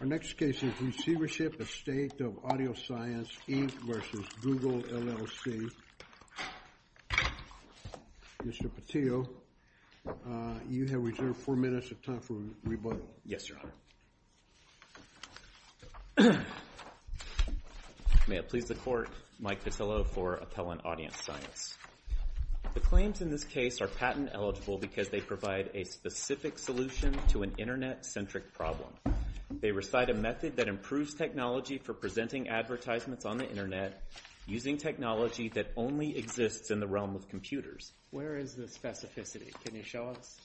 Our next case is Receivership Estate of Audioscience Inc. v. Google LLC. Mr. Petillo, you have reserved four minutes of time for rebuttal. Yes, Your Honor. May it please the Court, Mike Petillo for Appellant AudienceScience. The claims in this case are patent-eligible because they provide a specific solution to an Internet-centric problem. They recite a method that improves technology for presenting advertisements on the Internet using technology that only exists in the realm of computers. Where is the specificity? Can you show us?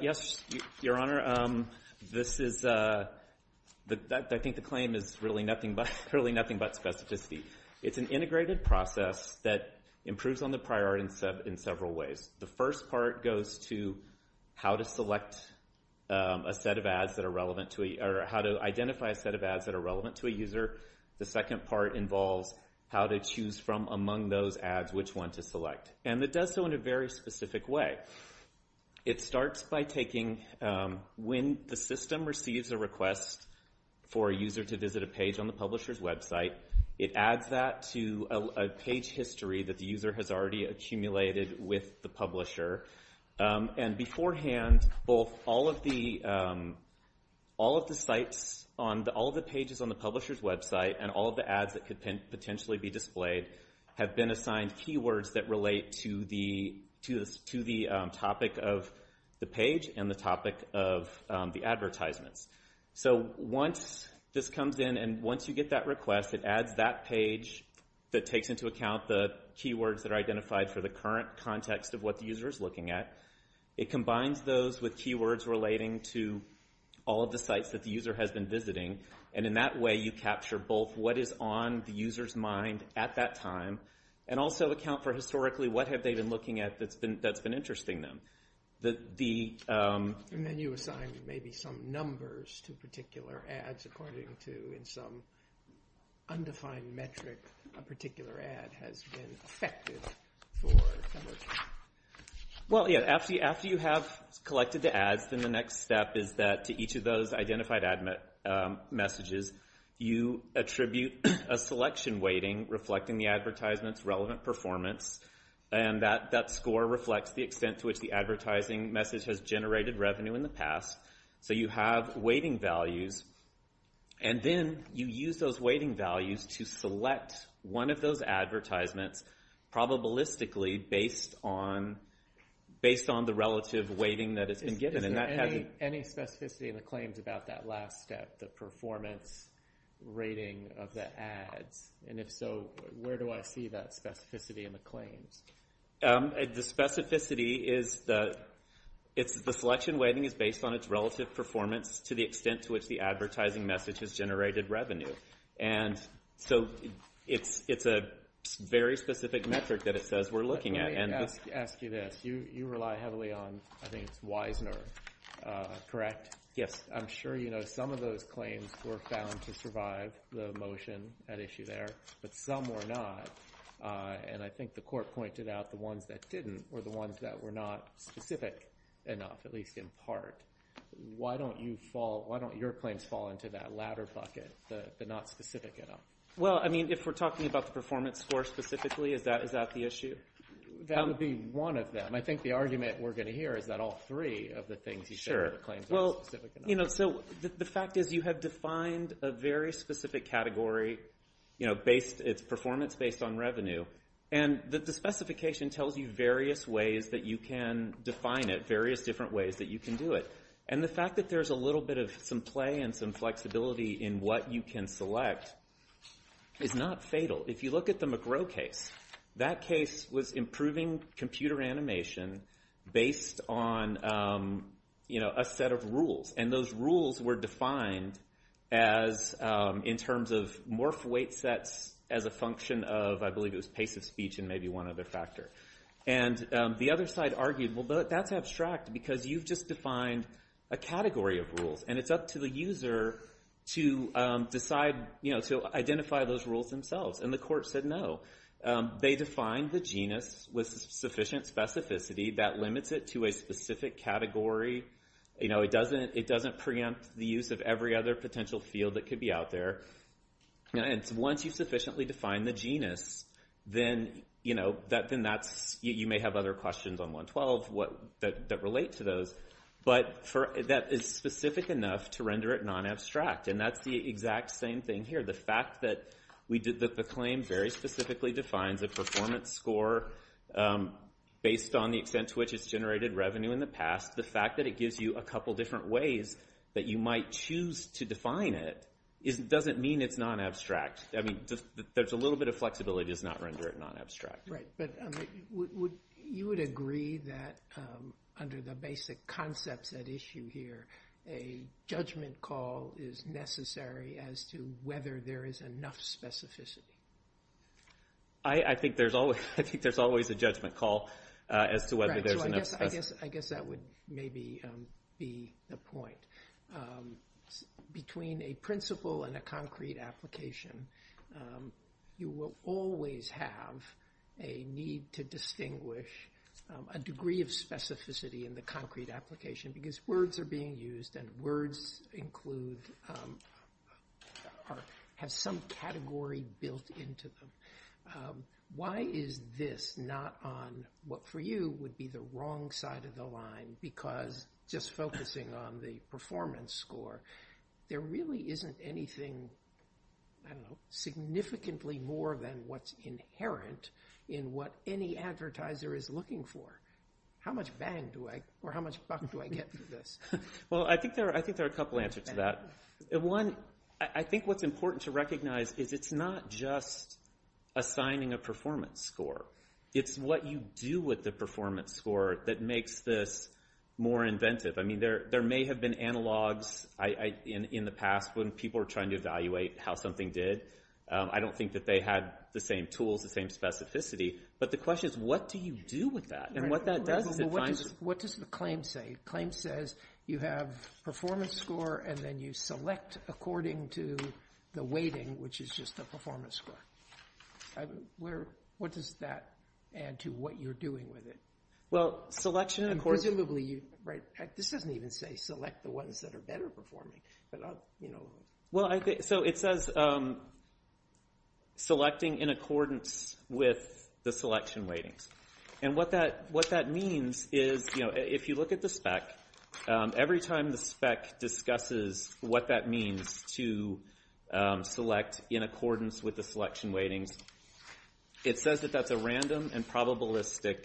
Yes, Your Honor. I think the claim is really nothing but specificity. It's an integrated process that improves on the prior art in several ways. The first part goes to how to identify a set of ads that are relevant to a user. The second part involves how to choose from among those ads which one to select. And it does so in a very specific way. It starts by taking when the system receives a request for a user to visit a page on the publisher's website, it adds that to a page history that the user has already accumulated with the publisher, and beforehand, all of the pages on the publisher's website and all of the ads that could potentially be displayed have been assigned keywords that relate to the topic of the page and the topic of the advertisements. So once this comes in and once you get that request, it adds that page that takes into account the keywords that are identified for the current context of what the user is looking at. It combines those with keywords relating to all of the sites that the user has been visiting. And in that way, you capture both what is on the user's mind at that time and also account for historically what have they been looking at that's been interesting them. And then you assign maybe some numbers to particular ads according to in some undefined metric a particular ad has been affected for some reason. Well, yeah, after you have collected the ads, then the next step is that to each of those identified ad messages, you attribute a selection weighting reflecting the advertisement's relevant performance. And that score reflects the extent to which the advertising message has generated revenue in the past. So you have weighting values, and then you use those weighting values to select one of those advertisements probabilistically based on the relative weighting that has been given. Is there any specificity in the claims about that last step, the performance rating of the ads? And if so, where do I see that specificity in the claims? The specificity is the selection weighting is based on its relative performance to the extent to which the advertising message has generated revenue. And so it's a very specific metric that it says we're looking at. Let me ask you this. You rely heavily on, I think it's Weisner, correct? Yes. I'm sure you know some of those claims were found to survive the motion at issue there, but some were not. And I think the court pointed out the ones that didn't were the ones that were not specific enough, at least in part. Why don't your claims fall into that ladder bucket, the not specific enough? Well, I mean, if we're talking about the performance score specifically, is that the issue? That would be one of them. I think the argument we're going to hear is that all three of the things you said were the claims were specific enough. So the fact is you have defined a very specific category. It's performance based on revenue. And the specification tells you various ways that you can define it, various different ways that you can do it. And the fact that there's a little bit of some play and some flexibility in what you can select is not fatal. If you look at the McGrow case, that case was improving computer animation based on a set of rules. And those rules were defined in terms of morph weight sets as a function of, I believe it was pace of speech and maybe one other factor. And the other side argued, well, that's abstract because you've just defined a category of rules. And it's up to the user to decide, to identify those rules themselves. And the court said no. They defined the genus with sufficient specificity that limits it to a specific category. It doesn't preempt the use of every other potential field that could be out there. And once you've sufficiently defined the genus, then you may have other questions on 112 that relate to those. But that is specific enough to render it non-abstract. And that's the exact same thing here. The fact that the claim very specifically defines a performance score based on the extent to which it's generated revenue in the past, the fact that it gives you a couple different ways that you might choose to define it doesn't mean it's non-abstract. I mean, there's a little bit of flexibility does not render it non-abstract. Right, but you would agree that under the basic concepts at issue here, a judgment call is necessary as to whether there is enough specificity. I think there's always a judgment call as to whether there's enough specificity. I guess that would maybe be the point. Between a principal and a concrete application, you will always have a need to distinguish a degree of specificity in the concrete application because words are being used and words have some category built into them. Why is this not on what for you would be the wrong side of the line because just focusing on the performance score, there really isn't anything significantly more than what's inherent in what any advertiser is looking for. How much bang do I or how much buck do I get for this? Well, I think there are a couple answers to that. One, I think what's important to recognize is it's not just assigning a performance score. It's what you do with the performance score that makes this more inventive. I mean, there may have been analogs in the past when people were trying to evaluate how something did. I don't think that they had the same tools, the same specificity, but the question is what do you do with that and what that does is it finds— What does the claim say? The claim says you have performance score and then you select according to the weighting, which is just the performance score. What does that add to what you're doing with it? Well, selection— Presumably you—this doesn't even say select the ones that are better performing. So it says selecting in accordance with the selection weightings. And what that means is if you look at the spec, every time the spec discusses what that means to select in accordance with the selection weightings, it says that that's a random and probabilistic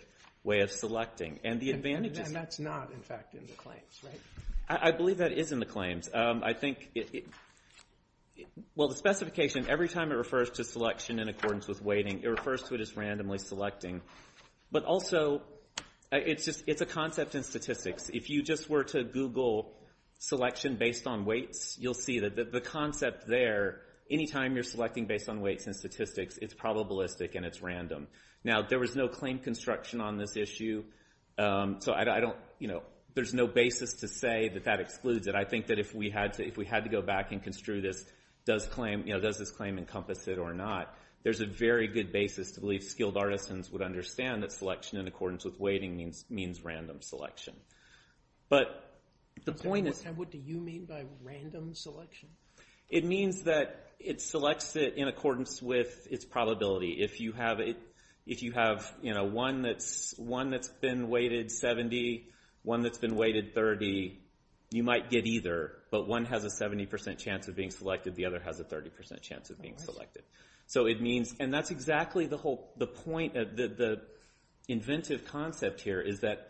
way of selecting. And that's not, in fact, in the claims, right? I believe that is in the claims. I think—well, the specification, every time it refers to selection in accordance with weighting, it refers to it as randomly selecting. But also, it's a concept in statistics. If you just were to Google selection based on weights, you'll see that the concept there, any time you're selecting based on weights and statistics, it's probabilistic and it's random. Now, there was no claim construction on this issue, so I don't—you know, there's no basis to say that that excludes it. But I think that if we had to go back and construe this, does this claim encompass it or not, there's a very good basis to believe skilled artisans would understand that selection in accordance with weighting means random selection. But the point is— What do you mean by random selection? It means that it selects it in accordance with its probability. If you have, you know, one that's been weighted 70, one that's been weighted 30, you might get either, but one has a 70% chance of being selected, the other has a 30% chance of being selected. So it means—and that's exactly the whole point, the inventive concept here is that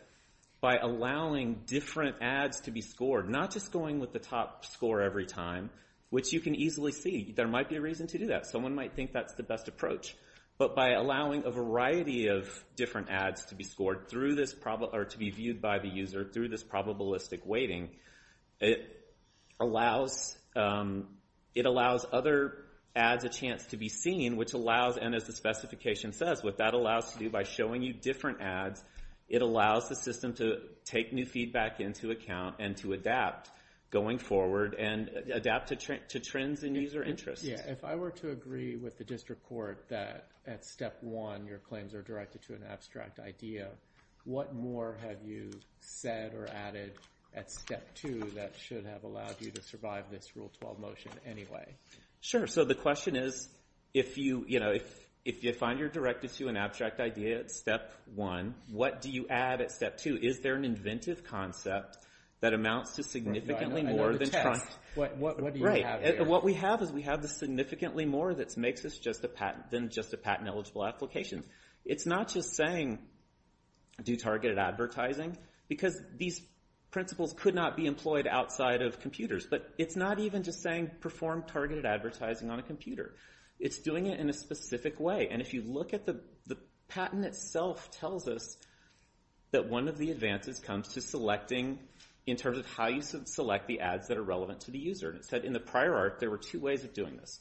by allowing different ads to be scored, not just going with the top score every time, which you can easily see, there might be a reason to do that. Someone might think that's the best approach. But by allowing a variety of different ads to be scored through this—or to be viewed by the user through this probabilistic weighting, it allows other ads a chance to be seen, which allows—and as the specification says, what that allows to do by showing you different ads, it allows the system to take new feedback into account and to adapt going forward and adapt to trends in user interest. Yeah, if I were to agree with the district court that at Step 1 your claims are directed to an abstract idea, what more have you said or added at Step 2 that should have allowed you to survive this Rule 12 motion anyway? Sure, so the question is, if you, you know, if you find you're directed to an abstract idea at Step 1, what do you add at Step 2? Is there an inventive concept that amounts to significantly more than— Right. What do you have here? Yeah, what we have is we have the significantly more that makes us just a patent—than just a patent-eligible application. It's not just saying do targeted advertising because these principles could not be employed outside of computers. But it's not even just saying perform targeted advertising on a computer. It's doing it in a specific way. And if you look at the—the patent itself tells us that one of the advances comes to selecting in terms of how you select the ads that are relevant to the user. And it said in the prior arc there were two ways of doing this.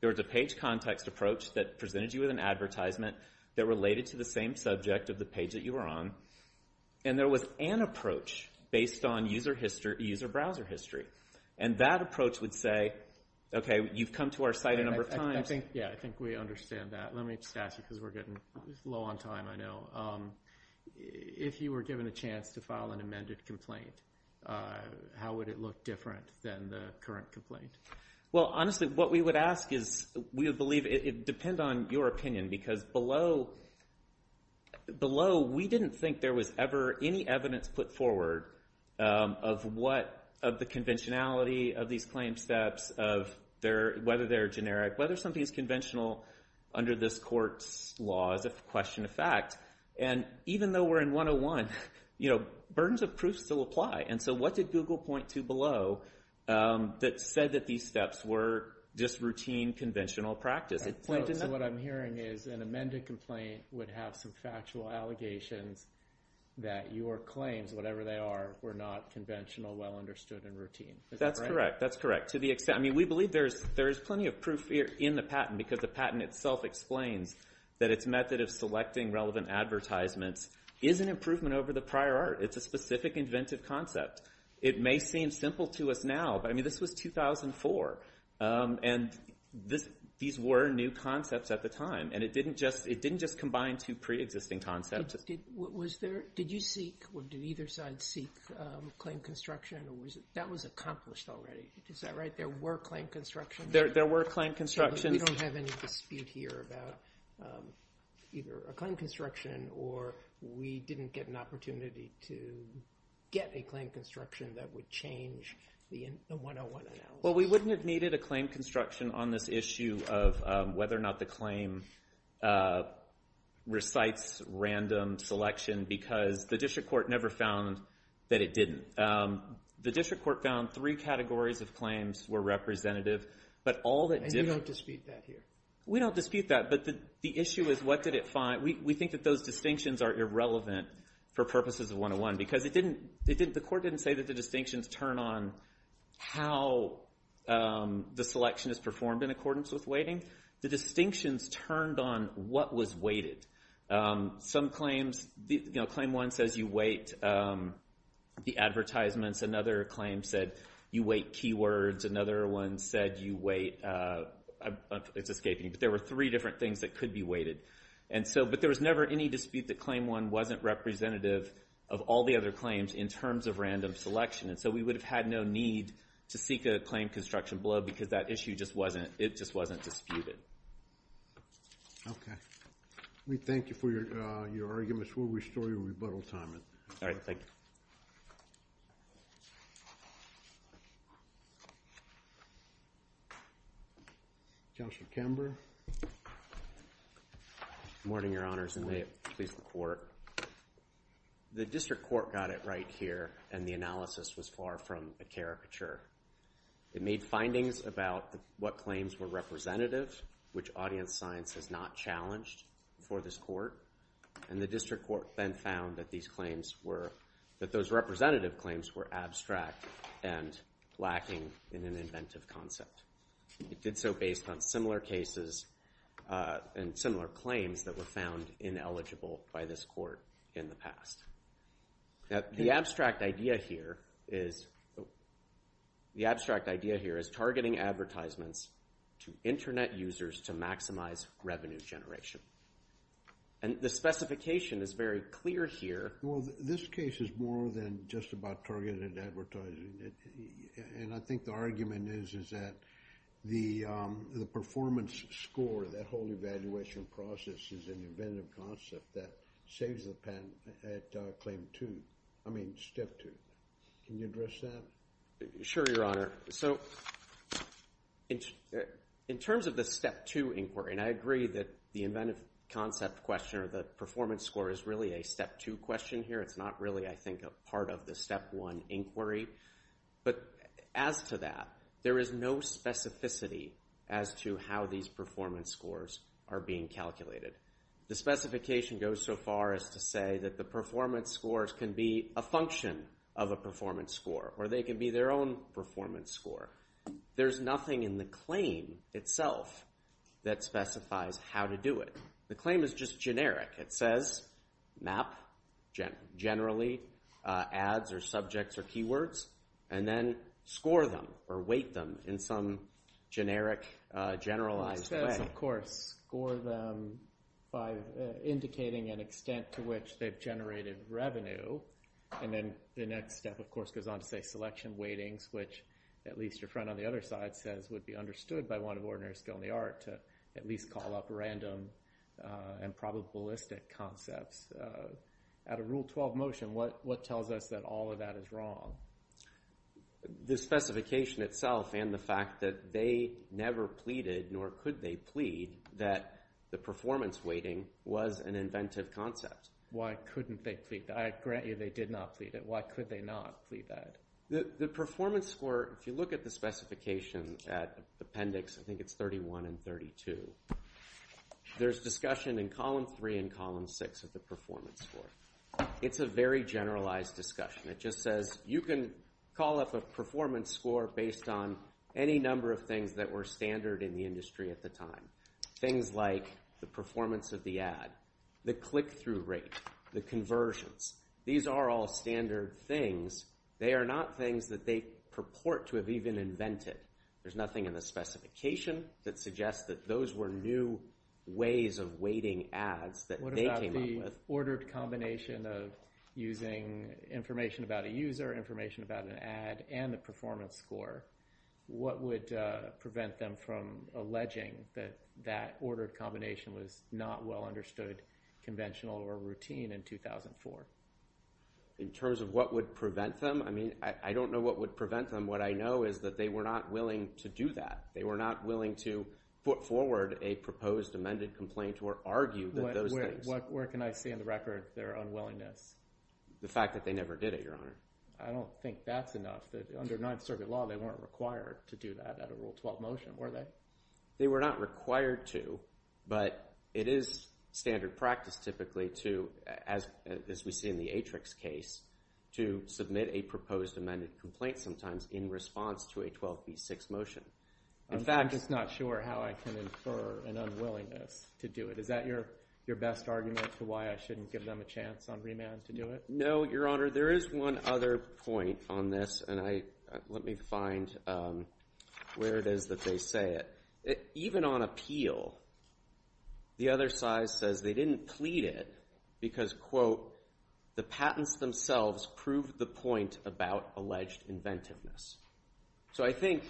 There was a page context approach that presented you with an advertisement that related to the same subject of the page that you were on. And there was an approach based on user history—user browser history. And that approach would say, okay, you've come to our site a number of times— I think, yeah, I think we understand that. Let me just ask you because we're getting low on time, I know. If you were given a chance to file an amended complaint, how would it look different than the current complaint? Well, honestly, what we would ask is we would believe—it would depend on your opinion because below— below we didn't think there was ever any evidence put forward of what—of the conventionality of these claim steps, of whether they're generic, whether something is conventional under this court's laws of question of fact. And even though we're in 101, you know, burdens of proof still apply. And so what did Google point to below that said that these steps were just routine, conventional practice? So what I'm hearing is an amended complaint would have some factual allegations that your claims, whatever they are, were not conventional, well understood, and routine. Is that correct? That's correct. To the extent—I mean, we believe there is plenty of proof here in the patent because the patent itself explains that its method of selecting relevant advertisements is an improvement over the prior art. It's a specific inventive concept. It may seem simple to us now, but, I mean, this was 2004, and these were new concepts at the time, and it didn't just combine two preexisting concepts. Did you seek or did either side seek claim construction? That was accomplished already. Is that right? There were claim constructions? There were claim constructions. So we don't have any dispute here about either a claim construction or we didn't get an opportunity to get a claim construction that would change the 101 analysis. Well, we wouldn't have needed a claim construction on this issue of whether or not the claim recites random selection because the district court never found that it didn't. The district court found three categories of claims were representative, but all that didn't— And you don't dispute that here? We don't dispute that, but the issue is what did it find? We think that those distinctions are irrelevant for purposes of 101 because the court didn't say that the distinctions turn on how the selection is performed in accordance with weighting. The distinctions turned on what was weighted. Some claims, you know, claim one says you weight the advertisements. Another claim said you weight keywords. Another one said you weight—it's escaping me, but there were three different things that could be weighted. But there was never any dispute that claim one wasn't representative of all the other claims in terms of random selection, and so we would have had no need to seek a claim construction below because that issue just wasn't—it just wasn't disputed. Okay. We thank you for your arguments. We'll restore your rebuttal time. All right. Thank you. Counselor Kember. Good morning, Your Honors, and may it please the Court. The district court got it right here, and the analysis was far from a caricature. It made findings about what claims were representative, which audience science has not challenged for this court, and the district court then found that these claims were—that those representative claims were abstract and lacking in an inventive concept. It did so based on similar cases and similar claims that were found ineligible by this court in the past. Now, the abstract idea here is—the abstract idea here is targeting advertisements to Internet users to maximize revenue generation. And the specification is very clear here. Well, this case is more than just about targeted advertising, and I think the argument is that the performance score, that whole evaluation process, is an inventive concept that saves the patent at claim two—I mean, step two. Can you address that? Sure, Your Honor. Sure. So in terms of the step two inquiry, and I agree that the inventive concept question or the performance score is really a step two question here. It's not really, I think, a part of the step one inquiry. But as to that, there is no specificity as to how these performance scores are being calculated. The specification goes so far as to say that the performance scores can be a function of a performance score, or they can be their own performance score. There's nothing in the claim itself that specifies how to do it. The claim is just generic. It says map generally ads or subjects or keywords, and then score them or weight them in some generic, generalized way. It says, of course, score them by indicating an extent to which they've generated revenue, and then the next step, of course, goes on to say selection weightings, which at least your friend on the other side says would be understood by one of ordinary skill in the art to at least call up random and probabilistic concepts. Out of Rule 12 motion, what tells us that all of that is wrong? The specification itself and the fact that they never pleaded, nor could they plead, that the performance weighting was an inventive concept. Why couldn't they plead? I grant you they did not plead it. Why could they not plead that? The performance score, if you look at the specification appendix, I think it's 31 and 32, there's discussion in column 3 and column 6 of the performance score. It's a very generalized discussion. It just says you can call up a performance score based on any number of things that were standard in the industry at the time, things like the performance of the ad, the click-through rate, the conversions. These are all standard things. They are not things that they purport to have even invented. There's nothing in the specification that suggests that those were new ways of weighting ads that they came up with. What about the ordered combination of using information about a user, information about an ad, and the performance score? What would prevent them from alleging that that ordered combination was not well understood, conventional, or routine in 2004? In terms of what would prevent them, I mean, I don't know what would prevent them. What I know is that they were not willing to do that. They were not willing to put forward a proposed amended complaint or argue those things. Where can I see in the record their unwillingness? The fact that they never did it, Your Honor. I don't think that's enough. Under Ninth Circuit law, they weren't required to do that at a Rule 12 motion, were they? They were not required to, but it is standard practice typically to, as we see in the Atrix case, to submit a proposed amended complaint sometimes in response to a 12b6 motion. I'm just not sure how I can infer an unwillingness to do it. Is that your best argument for why I shouldn't give them a chance on remand to do it? No, Your Honor. There is one other point on this, and let me find where it is that they say it. Even on appeal, the other side says they didn't plead it because, quote, the patents themselves prove the point about alleged inventiveness. So I think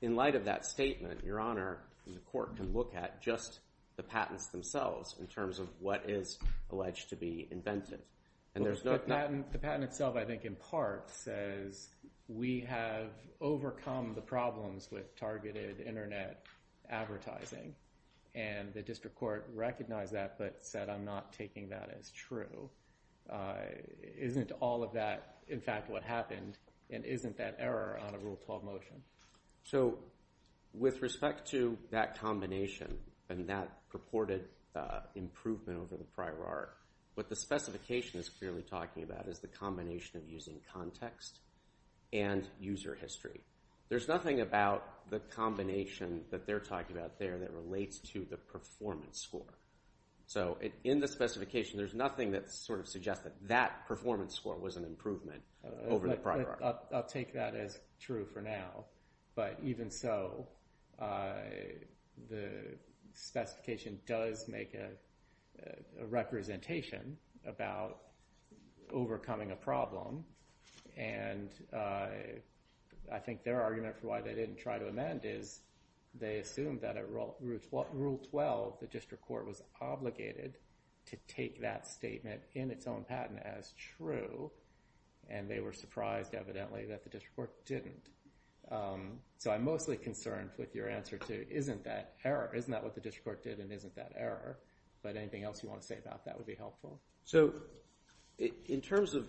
in light of that statement, Your Honor, the court can look at just the patents themselves in terms of what is alleged to be invented. The patent itself, I think, in part says we have overcome the problems with targeted Internet advertising, and the district court recognized that but said I'm not taking that as true. Isn't all of that, in fact, what happened, and isn't that error on a Rule 12 motion? So with respect to that combination and that purported improvement over the prior art, what the specification is clearly talking about is the combination of using context and user history. There's nothing about the combination that they're talking about there that relates to the performance score. So in the specification, there's nothing that sort of suggests that that performance score was an improvement over the prior art. I'll take that as true for now, but even so, the specification does make a representation about overcoming a problem, and I think their argument for why they didn't try to amend is they assumed that at Rule 12, the district court was obligated to take that statement in its own patent as true, and they were surprised, evidently, that the district court didn't. So I'm mostly concerned with your answer to isn't that error? Isn't that what the district court did and isn't that error? But anything else you want to say about that would be helpful. So in terms of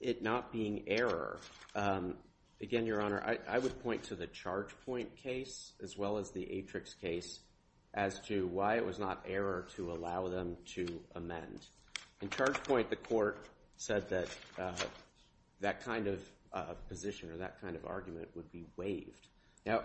it not being error, again, Your Honor, I would point to the Chargepoint case as well as the Atrix case as to why it was not error to allow them to amend. In Chargepoint, the court said that that kind of position or that kind of argument would be waived. Now,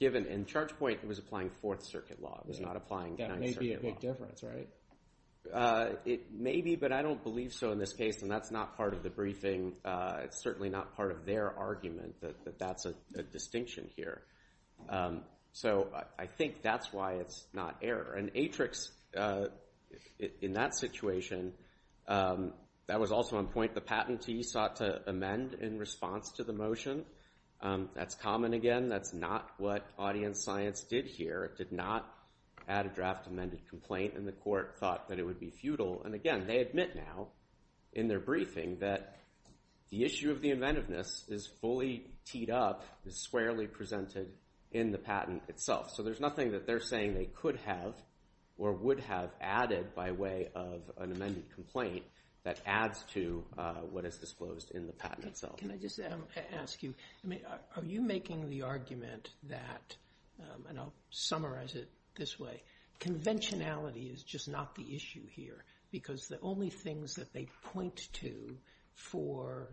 given in Chargepoint, it was applying Fourth Circuit law. It was not applying Ninth Circuit law. That may be a big difference, right? It may be, but I don't believe so in this case, and that's not part of the briefing. It's certainly not part of their argument that that's a distinction here. So I think that's why it's not error. And Atrix, in that situation, that was also on point. The patentee sought to amend in response to the motion. That's common, again. That's not what audience science did here. It did not add a draft amended complaint, and the court thought that it would be futile. And, again, they admit now in their briefing that the issue of the inventiveness is fully teed up, is squarely presented in the patent itself. So there's nothing that they're saying they could have or would have added by way of an amended complaint that adds to what is disclosed in the patent itself. Can I just ask you, are you making the argument that, and I'll summarize it this way, conventionality is just not the issue here because the only things that they point to for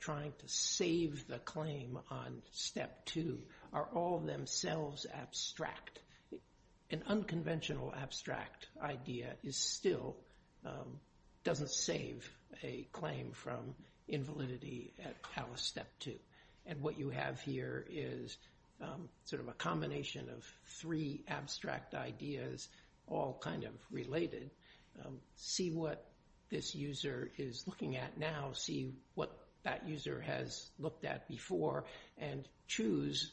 trying to save the claim on Step 2 are all themselves abstract. An unconventional abstract idea still doesn't save a claim from invalidity at House Step 2. And what you have here is sort of a combination of three abstract ideas all kind of related. See what this user is looking at now. See what that user has looked at before and choose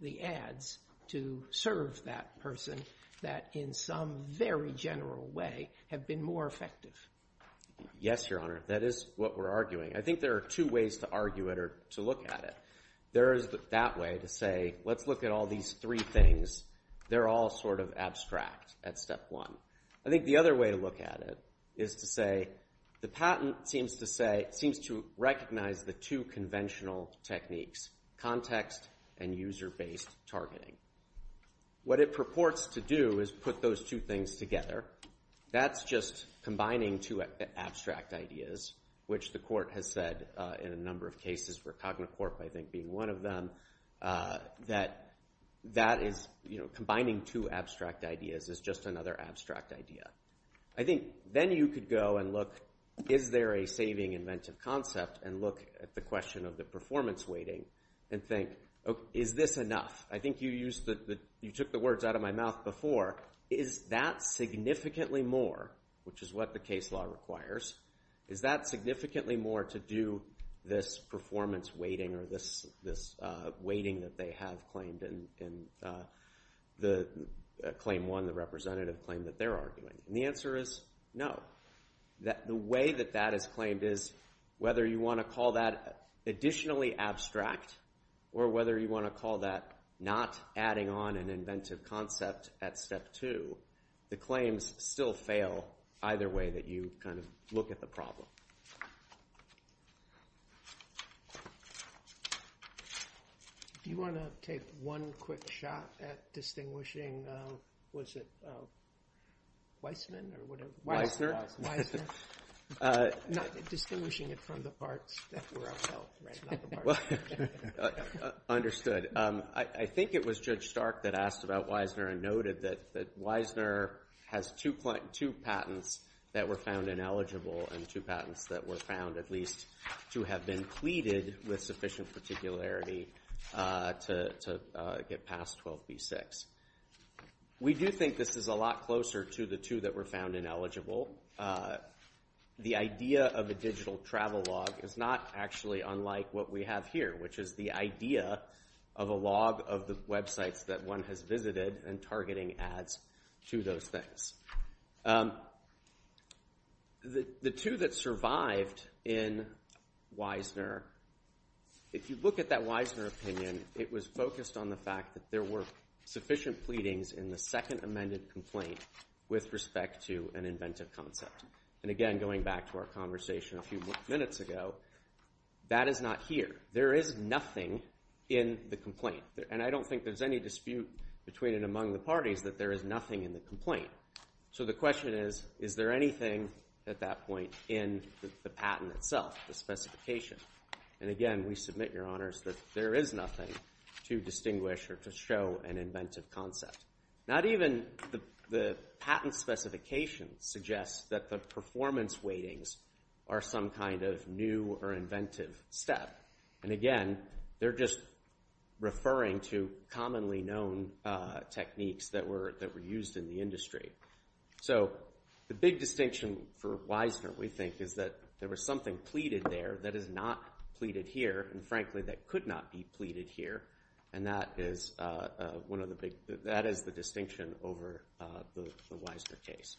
the ads to serve that person that in some very general way have been more effective. Yes, Your Honor. That is what we're arguing. I think there are two ways to argue it or to look at it. There is that way to say let's look at all these three things. They're all sort of abstract at Step 1. I think the other way to look at it is to say the patent seems to recognize the two conventional techniques, context and user-based targeting. What it purports to do is put those two things together. That's just combining two abstract ideas, which the court has said in a number of cases, for Cognacorp I think being one of them, that combining two abstract ideas is just another abstract idea. I think then you could go and look is there a saving inventive concept and look at the question of the performance weighting and think is this enough? I think you took the words out of my mouth before. Is that significantly more, which is what the case law requires, is that significantly more to do this performance weighting or this weighting that they have claimed in Claim 1, the representative claim that they're arguing? The answer is no. The way that that is claimed is whether you want to call that additionally abstract or whether you want to call that not adding on an inventive concept at Step 2, the claims still fail either way that you kind of look at the problem. Do you want to take one quick shot at distinguishing, was it Weissman or whatever? Weissner. Not distinguishing it from the parts that were upheld, right? Well, understood. I think it was Judge Stark that asked about Weissner and noted that Weissner has two patents that were found ineligible and two patents that were found at least to have been pleaded with sufficient particularity to get past 12b6. We do think this is a lot closer to the two that were found ineligible. The idea of a digital travel log is not actually unlike what we have here, which is the idea of a log of the websites that one has visited and targeting ads to those things. The two that survived in Weissner, if you look at that Weissner opinion, it was focused on the fact that there were sufficient pleadings in the second amended complaint with respect to an inventive concept. And again, going back to our conversation a few minutes ago, that is not here. There is nothing in the complaint. And I don't think there's any dispute between and among the parties that there is nothing in the complaint. So the question is, is there anything at that point in the patent itself, the specification? And again, we submit, Your Honors, that there is nothing to distinguish or to show an inventive concept. Not even the patent specification suggests that the performance weightings are some kind of new or inventive step. And again, they're just referring to commonly known techniques that were used in the industry. So the big distinction for Weissner, we think, is that there was something pleaded there that is not pleaded here, and frankly, that could not be pleaded here. And that is the distinction over the Weissner case.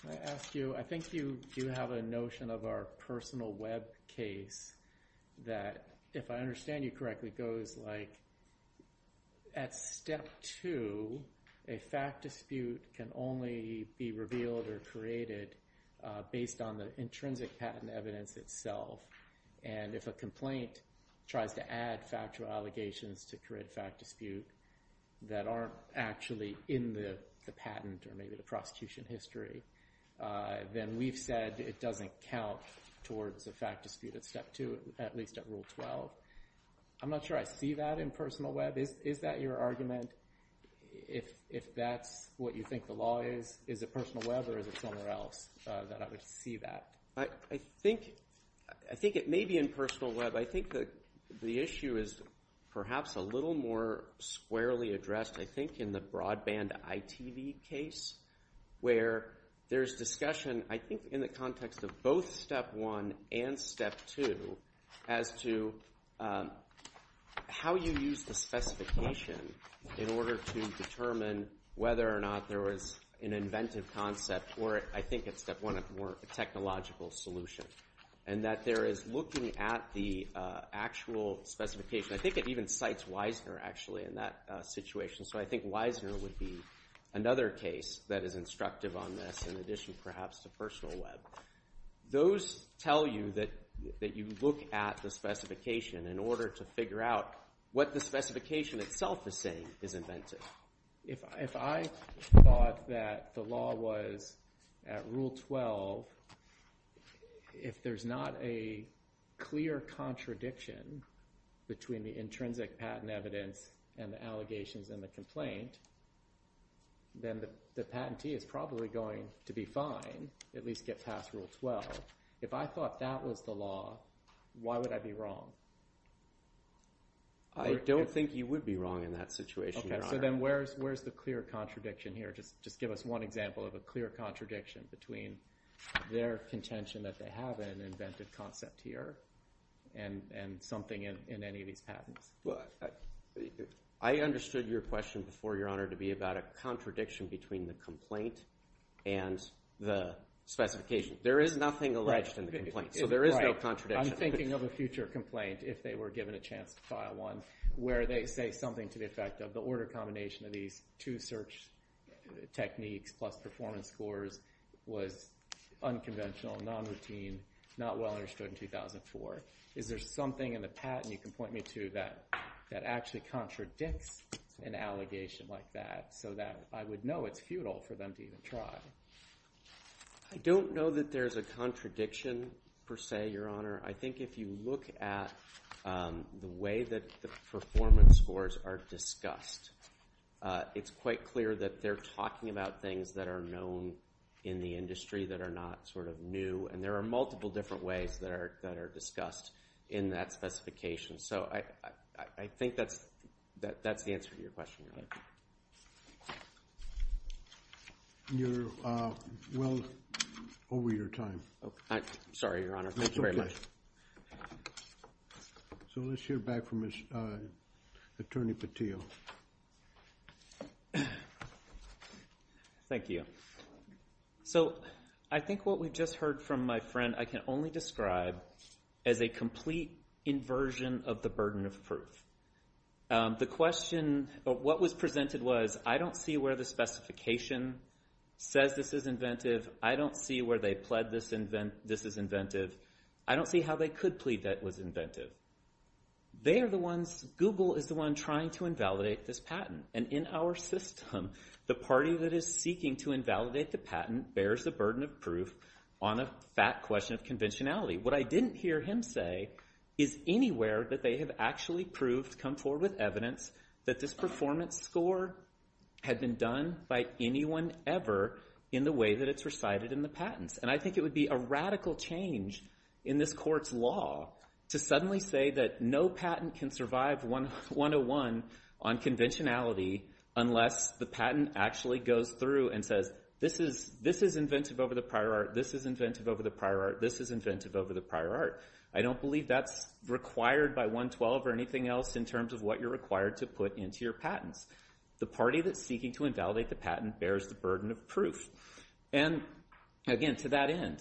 Can I ask you, I think you do have a notion of our personal web case that, if I understand you correctly, goes like, at step two, a fact dispute can only be revealed or created based on the intrinsic patent evidence itself. And if a complaint tries to add factual allegations to create a fact dispute that aren't actually in the patent or maybe the prosecution history, then we've said it doesn't count towards a fact dispute at step two, at least at Rule 12. I'm not sure I see that in personal web. Is that your argument? If that's what you think the law is, is it personal web or is it somewhere else that I would see that? I think it may be in personal web. I think the issue is perhaps a little more squarely addressed, I think, in the broadband ITV case, where there's discussion, I think, in the context of both step one and step two, as to how you use the specification in order to determine whether or not there was an inventive concept or, I think, at step one, a more technological solution. And that there is looking at the actual specification. I think it even cites Wiesner, actually, in that situation. So I think Wiesner would be another case that is instructive on this in addition, perhaps, to personal web. Those tell you that you look at the specification in order to figure out what the specification itself is saying is inventive. If I thought that the law was at Rule 12, if there's not a clear contradiction between the intrinsic patent evidence and the allegations and the complaint, then the patentee is probably going to be fine, at least get past Rule 12. If I thought that was the law, why would I be wrong? I don't think you would be wrong in that situation, Your Honor. Okay, so then where's the clear contradiction here? Just give us one example of a clear contradiction between their contention that they have an inventive concept here and something in any of these patents. Well, I understood your question before, Your Honor, to be about a contradiction between the complaint and the specification. There is nothing alleged in the complaint, so there is no contradiction. I'm thinking of a future complaint, if they were given a chance to file one, where they say something to the effect of the order combination of these two search techniques plus performance scores was unconventional, nonroutine, not well understood in 2004. Is there something in the patent, you can point me to, that actually contradicts an allegation like that so that I would know it's futile for them to even try? I don't know that there's a contradiction, per se, Your Honor. I think if you look at the way that the performance scores are discussed, it's quite clear that they're talking about things that are known in the industry that are not sort of new, and there are multiple different ways that are discussed in that specification. So I think that's the answer to your question, Your Honor. You're well over your time. Sorry, Your Honor. Thank you very much. So let's hear back from Attorney Patil. Thank you. So I think what we just heard from my friend I can only describe as a complete inversion of the burden of proof. The question, what was presented was, I don't see where the specification says this is inventive. I don't see where they pled this is inventive. I don't see how they could plead that it was inventive. They are the ones, Google is the one trying to invalidate this patent, and in our system the party that is seeking to invalidate the patent bears the burden of proof on a fat question of conventionality. What I didn't hear him say is anywhere that they have actually proved, come forward with evidence, that this performance score had been done by anyone ever in the way that it's recited in the patents. And I think it would be a radical change in this court's law to suddenly say that no patent can survive 101 on conventionality unless the patent actually goes through and says this is inventive over the prior art, this is inventive over the prior art, this is inventive over the prior art. I don't believe that's required by 112 or anything else in terms of what you're required to put into your patents. The party that's seeking to invalidate the patent bears the burden of proof. And again, to that end,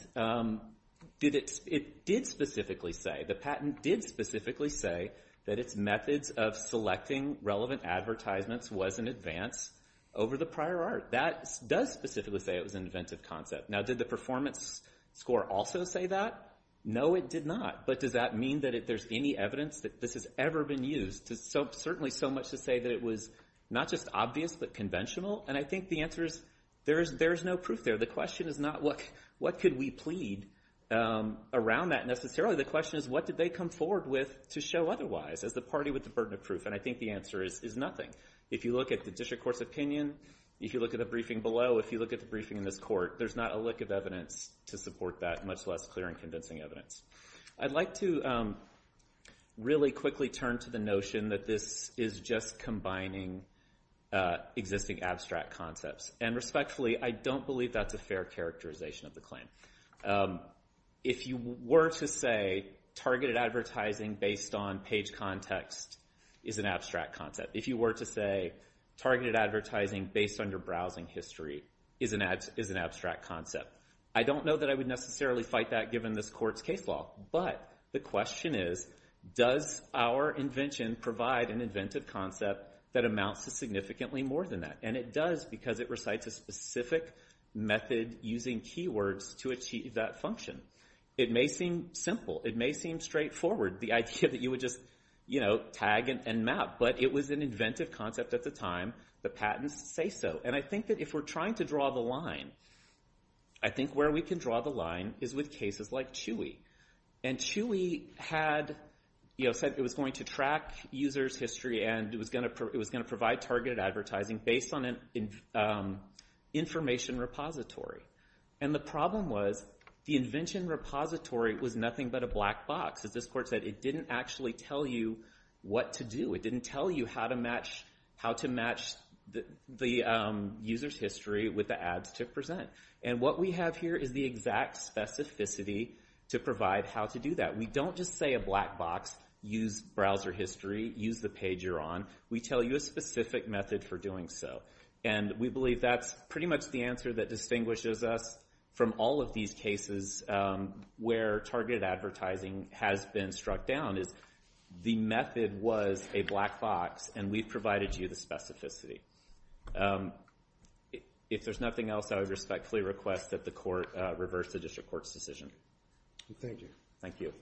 it did specifically say, the patent did specifically say, that its methods of selecting relevant advertisements was in advance over the prior art. That does specifically say it was an inventive concept. Now did the performance score also say that? No, it did not. But does that mean that if there's any evidence that this has ever been used? There's certainly so much to say that it was not just obvious but conventional. And I think the answer is there is no proof there. The question is not what could we plead around that necessarily. The question is what did they come forward with to show otherwise as the party with the burden of proof. And I think the answer is nothing. If you look at the district court's opinion, if you look at the briefing below, if you look at the briefing in this court, there's not a lick of evidence to support that, much less clear and convincing evidence. I'd like to really quickly turn to the notion that this is just combining existing abstract concepts. And respectfully, I don't believe that's a fair characterization of the claim. If you were to say targeted advertising based on page context is an abstract concept, if you were to say targeted advertising based on your browsing history is an abstract concept, I don't know that I would necessarily fight that given this court's case law. But the question is does our invention provide an inventive concept that amounts to significantly more than that? And it does because it recites a specific method using keywords to achieve that function. It may seem simple. It may seem straightforward, the idea that you would just tag and map. But it was an inventive concept at the time. The patents say so. And I think that if we're trying to draw the line, I think where we can draw the line is with cases like Chewy. And Chewy said it was going to track users' history and it was going to provide targeted advertising based on an information repository. And the problem was the invention repository was nothing but a black box. As this court said, it didn't actually tell you what to do. It didn't tell you how to match the user's history with the ads to present. And what we have here is the exact specificity to provide how to do that. We don't just say a black box, use browser history, use the page you're on. We tell you a specific method for doing so. And we believe that's pretty much the answer that distinguishes us from all of these cases where targeted advertising has been struck down is the method was a black box and we've provided you the specificity. If there's nothing else, I would respectfully request that the court reverse the district court's decision. Thank you. Thank you.